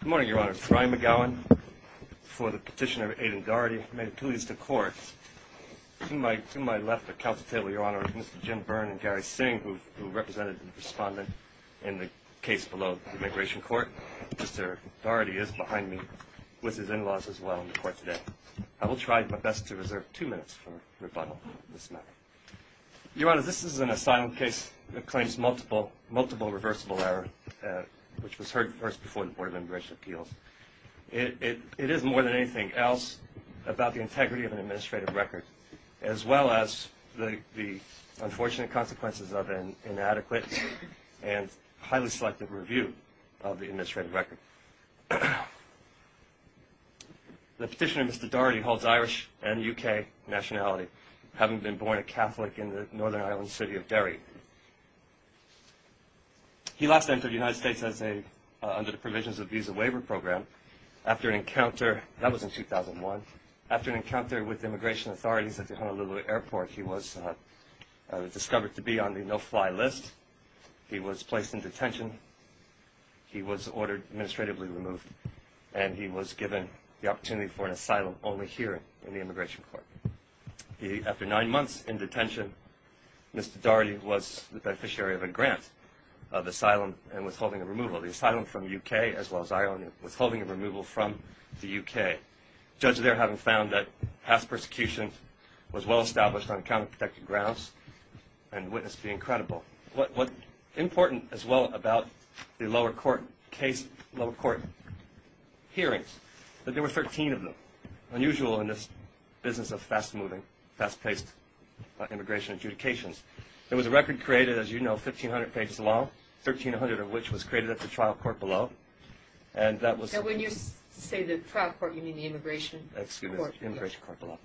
Good morning, Your Honor. Brian McGowan, for the petitioner Aiden Doherty, made appeals to court. To my left of the council table, Your Honor, is Mr. Jim Byrne and Gary Singh, who represented the respondent in the case below the Immigration Court. Mr. Doherty is behind me with his in-laws as well in the court today. I will try my best to reserve two minutes for rebuttal on this matter. Your Honor, this is an asylum case that claims multiple reversible error, which was heard first before the Board of Immigration Appeals. It is more than anything else about the integrity of an administrative record, as well as the unfortunate consequences of an inadequate and highly selective review of the administrative record. The petitioner, Mr. Doherty, holds Irish and UK nationality, having been born a Catholic in the Northern Ireland city of Derry. He last entered the United States under the provisions of the Visa Waiver Program. That was in 2001. After an encounter with immigration authorities at the Honolulu Airport, he was discovered to be on the no-fly list. He was placed in detention. He was ordered administratively removed, and he was given the opportunity for an asylum only here in the Immigration Court. After nine months in detention, Mr. Doherty was the beneficiary of a grant of asylum and withholding of removal. The asylum from the UK, as well as Ireland, withholding of removal from the UK. Judges there having found that past persecution was well-established on counter-protective grounds and witnessed the incredible. What's important, as well, about the lower court case, lower court hearings, that there were 13 of them, unusual in this business of fast-moving, fast-paced immigration adjudications. There was a record created, as you know, 1,500 pages long, 1,300 of which was created at the trial court below. And that was... And when you say the trial court, you mean the Immigration Court. Excuse me, the Immigration Court below.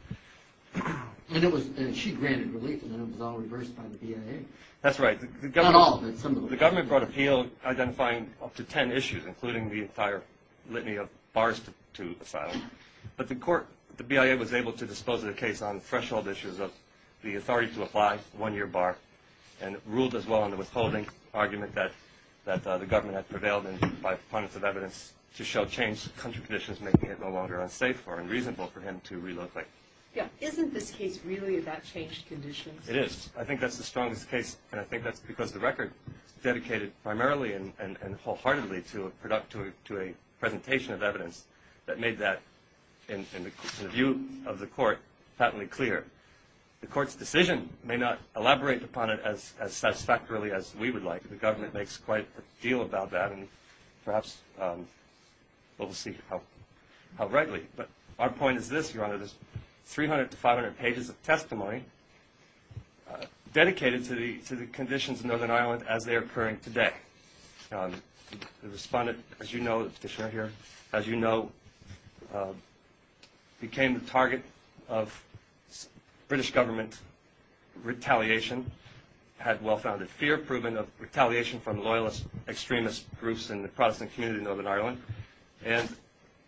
And it was... she granted relief, and then it was all reversed by the BIA. That's right. Not all, but some of the... The government brought appeal identifying up to ten issues, including the entire litany of bars to asylum. But the court, the BIA, was able to dispose of the case on threshold issues of the authority to apply, one-year bar, and ruled as well on the withholding argument that the government had prevailed in by pundits of evidence to show changed country conditions, making it no longer unsafe or unreasonable for him to relocate. Yeah, isn't this case really about changed conditions? It is. I think that's the strongest case, and I think that's because the record is dedicated primarily and wholeheartedly to a presentation of evidence that made that, in the view of the court, patently clear. The court's decision may not elaborate upon it as satisfactorily as we would like. The government makes quite a deal about that, and perhaps we'll see how rightly. But our point is this, Your Honor. There's 300 to 500 pages of testimony dedicated to the conditions in Northern Ireland as they are occurring today. The respondent, as you know, the petitioner here, as you know, became the target of British government retaliation, had well-founded fear, proven of retaliation from loyalist extremist groups in the Protestant community in Northern Ireland. And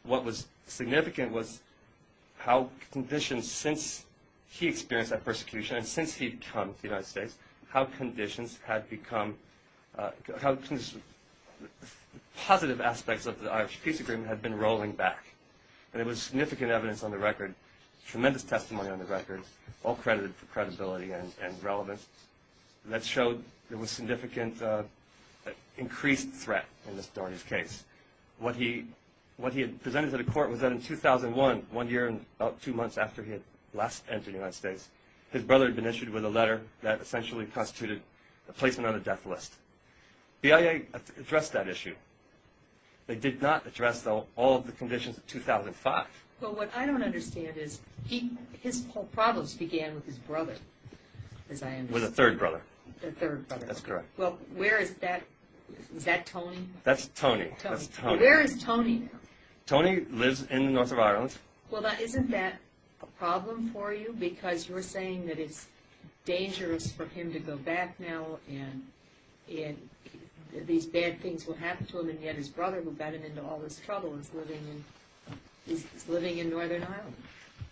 what was significant was how conditions since he experienced that persecution and since he'd come to the United States, how conditions had become – how positive aspects of the Irish peace agreement had been rolling back. And there was significant evidence on the record, tremendous testimony on the record, all credited for credibility and relevance, that showed there was significant increased threat in this case. What he had presented to the court was that in 2001, one year and about two months after he had last entered the United States, his brother had been issued with a letter that essentially constituted a placement on the death list. The IA addressed that issue. They did not address, though, all of the conditions of 2005. Well, what I don't understand is he – his whole problems began with his brother, as I understand. With the third brother. The third brother. That's correct. Well, where is that – is that Tony? That's Tony. Tony. Where is Tony now? Tony lives in the North of Ireland. Well, isn't that a problem for you? Because you're saying that it's dangerous for him to go back now and these bad things will happen to him, and yet his brother, who got him into all this trouble, is living in Northern Ireland.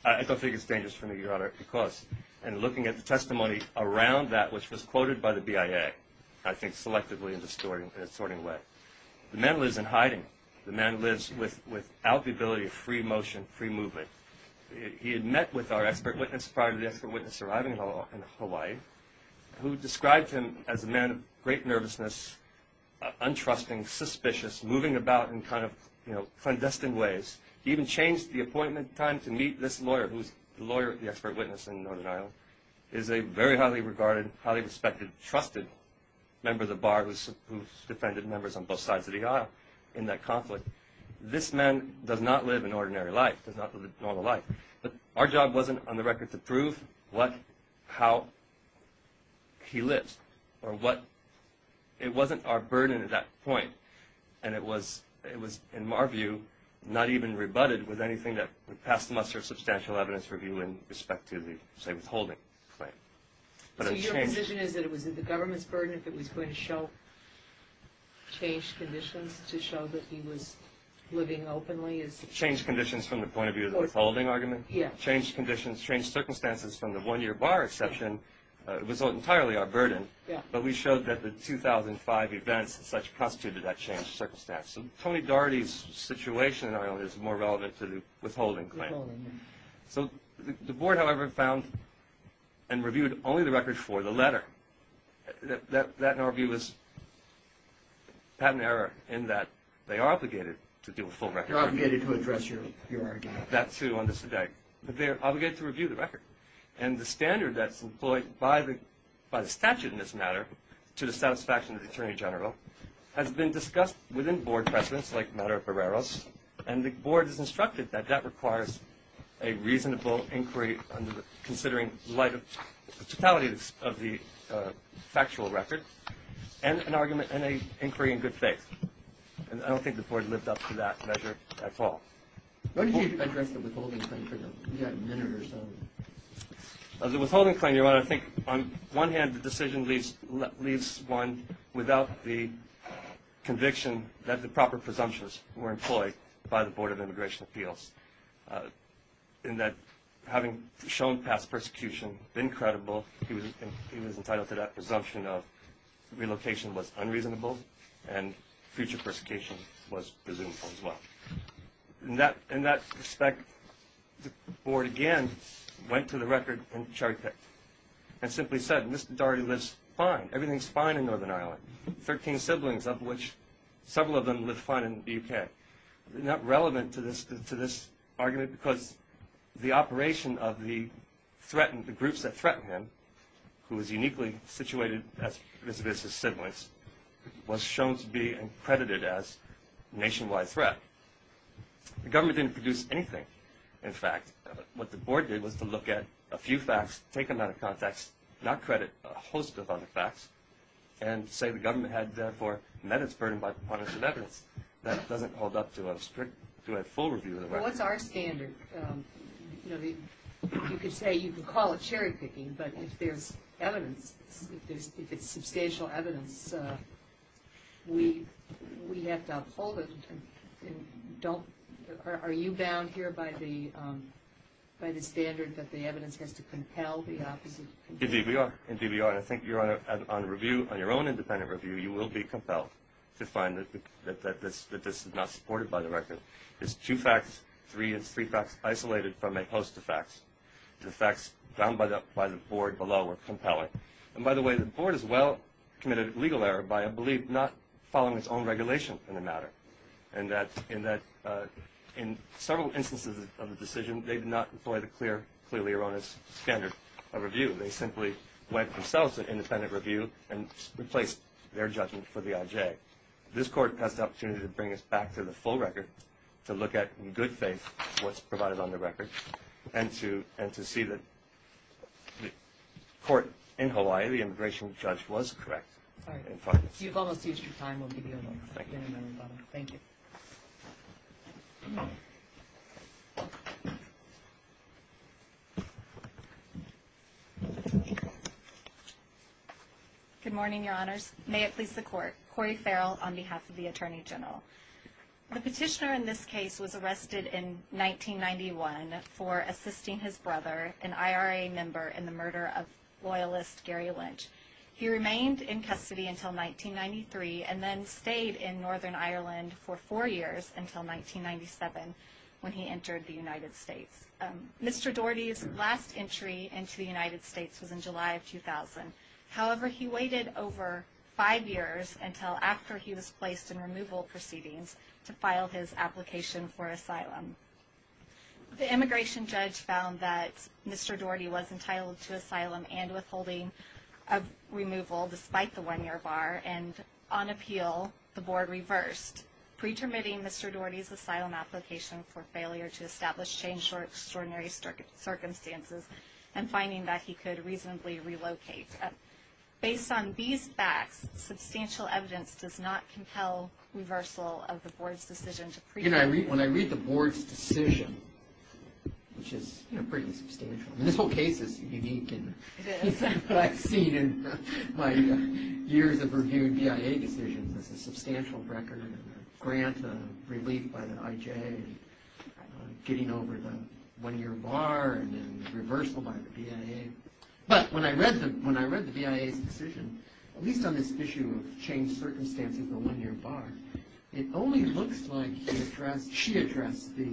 I don't think it's dangerous for me, Your Honor, because in looking at the testimony around that, which was quoted by the BIA, I think selectively in a distorting way, the man lives in hiding. The man lives without the ability of free motion, free movement. He had met with our expert witness prior to the expert witness arriving in Hawaii, who described him as a man of great nervousness, untrusting, suspicious, moving about in kind of clandestine ways. He even changed the appointment time to meet this lawyer, who's the lawyer, the expert witness in Northern Ireland, is a very highly regarded, highly respected, trusted member of the bar who's defended members on both sides of the aisle in that conflict. This man does not live an ordinary life, does not live a normal life. But our job wasn't, on the record, to prove what, how he lives. It wasn't our burden at that point, and it was, in our view, not even rebutted with anything that would pass the muster of substantial evidence review in respect to the, say, withholding claim. So your position is that it was the government's burden if it was going to change conditions to show that he was living openly? Change conditions from the point of view of the withholding argument? Yes. Change conditions, change circumstances from the one-year bar exception was entirely our burden, but we showed that the 2005 events and such constituted that changed circumstance. So Tony Daugherty's situation in Ireland is more relevant to the withholding claim. So the board, however, found and reviewed only the records for the letter. That, in our view, was patent error in that they are obligated to do a full record review. They're obligated to address your argument. That, too, on this today. But they're obligated to review the record. And the standard that's employed by the statute in this matter to the satisfaction of the Attorney General has been discussed within board precedence, like the matter of Barreros, and the board has instructed that that requires a reasonable inquiry considering the totality of the factual record and an inquiry in good faith. And I don't think the board lived up to that measure at all. When did you address the withholding claim for the minute or so? The withholding claim, Your Honor, I think on one hand the decision leaves one without the conviction that the proper presumptions were employed by the Board of Immigration Appeals in that having shown past persecution, been credible, he was entitled to that presumption of relocation was unreasonable and future persecution was presumable as well. In that respect, the board, again, went to the record and cherry-picked and simply said, Mr. Daugherty lives fine. Everything's fine in Northern Ireland. Thirteen siblings of which several of them live fine in the UK. Not relevant to this argument because the operation of the threatened, the groups that threatened him, who was uniquely situated as his siblings, was shown to be accredited as nationwide threat. The government didn't produce anything, in fact. What the board did was to look at a few facts, take them out of context, not credit, a host of other facts, and say the government had therefore met its burden by the punishment of evidence. That doesn't hold up to a full review of the record. Well, what's our standard? You could say, you could call it cherry-picking, but if there's evidence, if it's substantial evidence, we have to uphold it. Are you bound here by the standard that the evidence has to compel the opposite? Indeed we are. Indeed we are. And I think you're on a review, on your own independent review, you will be compelled to find that this is not supported by the record. It's two facts, three facts, isolated from a host of facts. The facts found by the board below are compelling. And by the way, the board has well committed legal error by, I believe, not following its own regulation in the matter, in that in several instances of the decision, they did not employ the clear, clearly erroneous standard of review. They simply went themselves to independent review and replaced their judgment for the IJ. This court has the opportunity to bring us back to the full record, to look at in good faith what's provided on the record, and to see that the court in Hawaii, the immigration judge, was correct. All right. You've almost used your time. We'll give you a moment. Thank you. Good morning, Your Honors. May it please the Court. Cori Farrell on behalf of the Attorney General. The petitioner in this case was arrested in 1991 for assisting his brother, an IRA member, in the murder of loyalist Gary Lynch. He remained in custody until 1993 and then stayed in Northern Ireland for four years until 1997 when he entered the United States. Mr. Daugherty's last entry into the United States was in July of 2000. However, he waited over five years until after he was placed in removal proceedings to file his application for asylum. The immigration judge found that Mr. Daugherty was entitled to asylum and withholding of removal despite the one-year bar, and on appeal the board reversed, pretermitting Mr. Daugherty's asylum application for failure to establish change or extraordinary circumstances and finding that he could reasonably relocate. Based on these facts, substantial evidence does not compel reversal of the board's decision to pre- which is, you know, pretty substantial. I mean, this whole case is unique. It is. It's what I've seen in my years of reviewing BIA decisions. It's a substantial record and a grant of relief by the IJ and getting over the one-year bar and then reversal by the BIA. But when I read the BIA's decision, at least on this issue of changed circumstances and the one-year bar, it only looks like she addressed the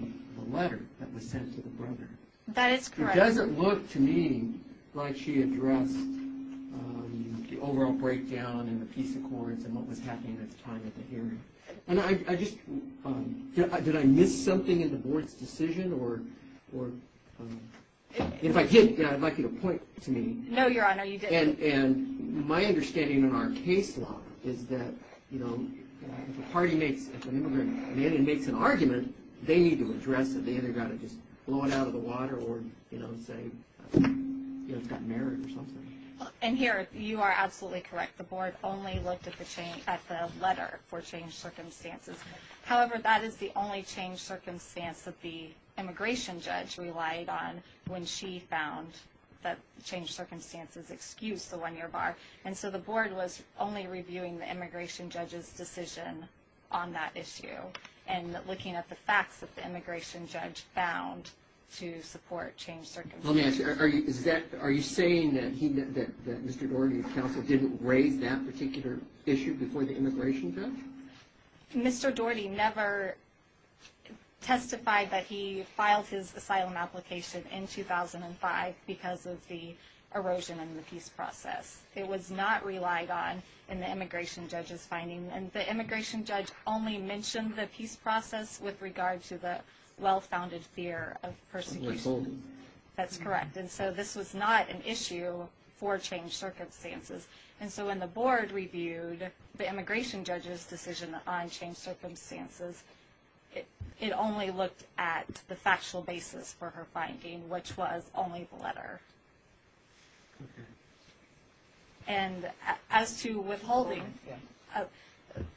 letter that was sent to the brother. That is correct. It doesn't look to me like she addressed the overall breakdown and the peace accords and what was happening at the time of the hearing. And I just, did I miss something in the board's decision? Or if I did, I'd like you to point to me. No, Your Honor, you didn't. And my understanding in our case law is that, you know, if a party makes an argument, they need to address it. They either got to just blow it out of the water or, you know, say it's got merit or something. And here, you are absolutely correct. The board only looked at the letter for changed circumstances. However, that is the only changed circumstance that the immigration judge relied on when she found that changed circumstances excused the one-year bar. And so the board was only reviewing the immigration judge's decision on that issue and looking at the facts that the immigration judge found to support changed circumstances. Let me ask you, are you saying that Mr. Daugherty, the counsel, didn't raise that particular issue before the immigration judge? Mr. Daugherty never testified that he filed his asylum application in 2005 because of the erosion in the peace process. It was not relied on in the immigration judge's finding. And the immigration judge only mentioned the peace process with regard to the well-founded fear of persecution. That's correct. And so this was not an issue for changed circumstances. And so when the board reviewed the immigration judge's decision on changed circumstances, it only looked at the factual basis for her finding, which was only the letter. And as to withholding,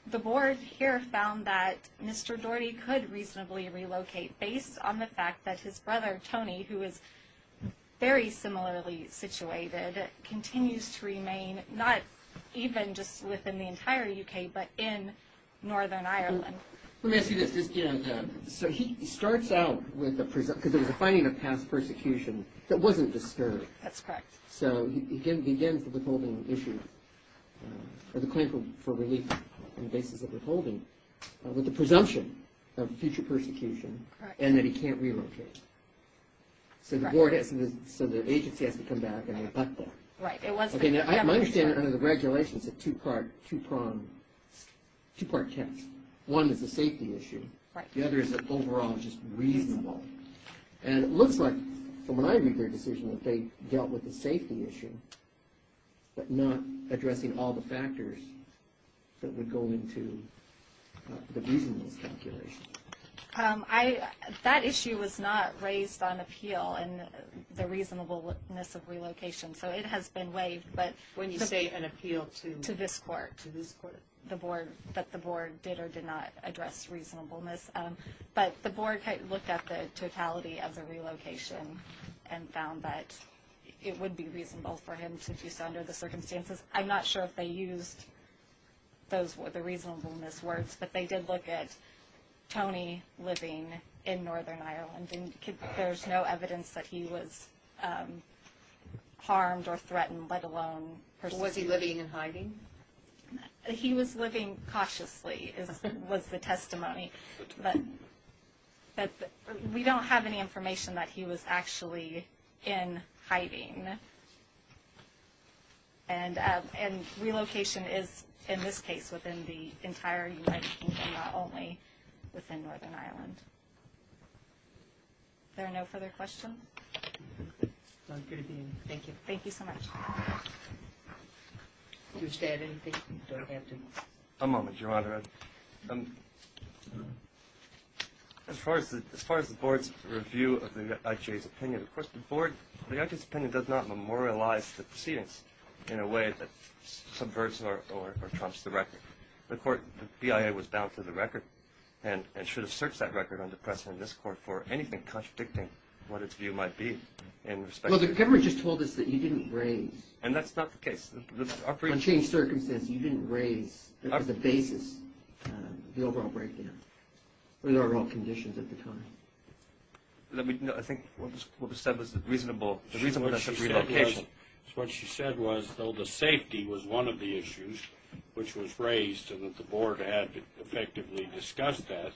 the board here found that Mr. Daugherty could reasonably relocate based on the fact that his brother, Tony, who is very similarly situated, continues to remain not even just within the entire U.K., but in Northern Ireland. Let me ask you this. So he starts out with a presumption because it was a finding of past persecution that wasn't disturbed. That's correct. So he begins the withholding issue or the claim for relief on the basis of withholding with the presumption of future persecution and that he can't relocate. So the agency has to come back and rebut that. Right. My understanding under the regulations is a two-part test. One is a safety issue. The other is overall just reasonable. And it looks like from when I reviewed their decision that they dealt with the safety issue but not addressing all the factors that would go into the reasonableness calculation. That issue was not raised on appeal and the reasonableness of relocation, so it has been waived. When you say an appeal to? To this court. To this court. That the board did or did not address reasonableness. But the board looked at the totality of the relocation and found that it would be reasonable for him to do so under the circumstances. I'm not sure if they used the reasonableness words, but they did look at Tony living in Northern Ireland. There's no evidence that he was harmed or threatened, let alone persecuted. Was he living and hiding? He was living cautiously was the testimony. We don't have any information that he was actually in hiding. And relocation is, in this case, within the entire United Kingdom, not only within Northern Ireland. Are there no further questions? Thank you. Thank you so much. A moment, Your Honor. As far as the board's review of the IJA's opinion, of course the board, the IJA's opinion does not memorialize the proceedings in a way that subverts or trumps the record. The BIA was bound to the record and should have searched that record under precedent in this court for anything contradicting what its view might be in respect to. Well, the government just told us that you didn't raise. And that's not the case. Unchanged circumstances, you didn't raise as a basis the overall breakdown, the overall conditions at the time. I think what was said was the reasonable relocation. What she said was, though the safety was one of the issues which was raised and that the board had effectively discussed that,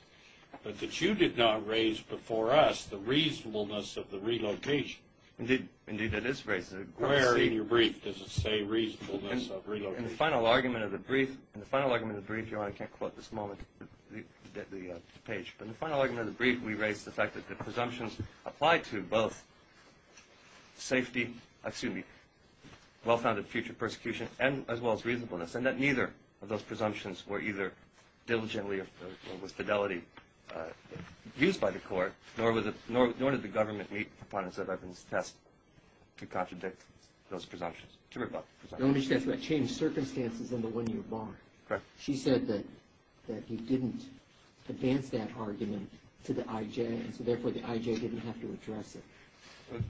but that you did not raise before us the reasonableness of the relocation. Indeed, that is raised. Where in your brief does it say reasonableness of relocation? In the final argument of the brief, Your Honor, I can't quote this moment, the page, but in the final argument of the brief we raised the fact that the presumptions applied to both safety, excuse me, well-founded future persecution as well as reasonableness and that neither of those presumptions were either diligently or with fidelity used by the court, nor did the government meet proponents of evidence test to contradict those presumptions, to rebut presumptions. Your Honor, she asked about changed circumstances in the one-year bar. Correct. She said that you didn't advance that argument to the IJ, and so therefore the IJ didn't have to address it.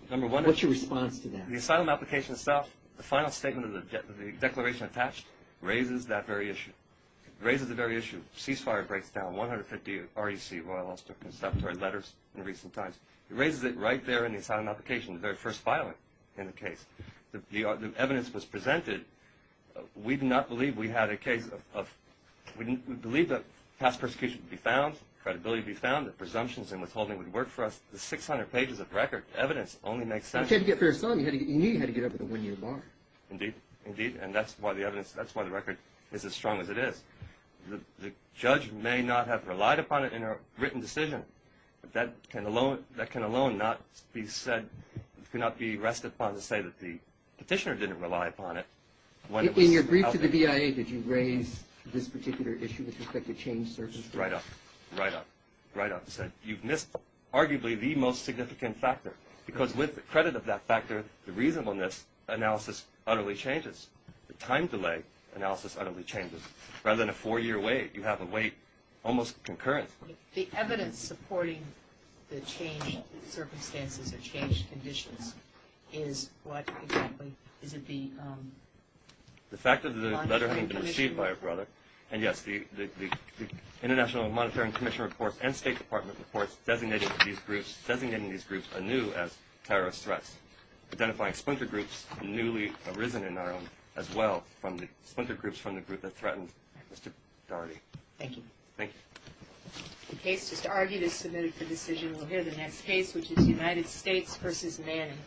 What's your response to that? The asylum application itself, the final statement of the declaration attached, raises that very issue. It raises the very issue. Ceasefire breaks down 150 REC Royal Ulster Conservatory letters in recent times. It raises it right there in the asylum application, the very first filing in the case. The evidence was presented. We do not believe we had a case of, we believe that past persecution would be found, credibility would be found, that presumptions and withholding would work for us. The 600 pages of record evidence only makes sense. You knew you had to get up at the one-year bar. Indeed. Indeed, and that's why the evidence, that's why the record is as strong as it is. The judge may not have relied upon it in her written decision. That can alone not be said, cannot be rested upon to say that the petitioner didn't rely upon it. In your brief to the BIA, did you raise this particular issue with respect to changed circumstances? Right up. Right up. Right up. You've missed arguably the most significant factor, because with the credit of that factor, the reasonableness analysis utterly changes. The time delay analysis utterly changes. Rather than a four-year wait, you have a wait almost concurrent. The evidence supporting the changed circumstances or changed conditions is what exactly? Is it the monetary commission? The fact that the letter hadn't been received by her brother, and, yes, the International Monetary Commission reports and State Department reports designating these groups anew as terrorist threats, identifying splinter groups newly arisen in Ireland as well from the splinter groups from the group that threatened Mr. Daugherty. Thank you. Thank you. The case just argued is submitted for decision. We'll hear the next case, which is United States v. Manning.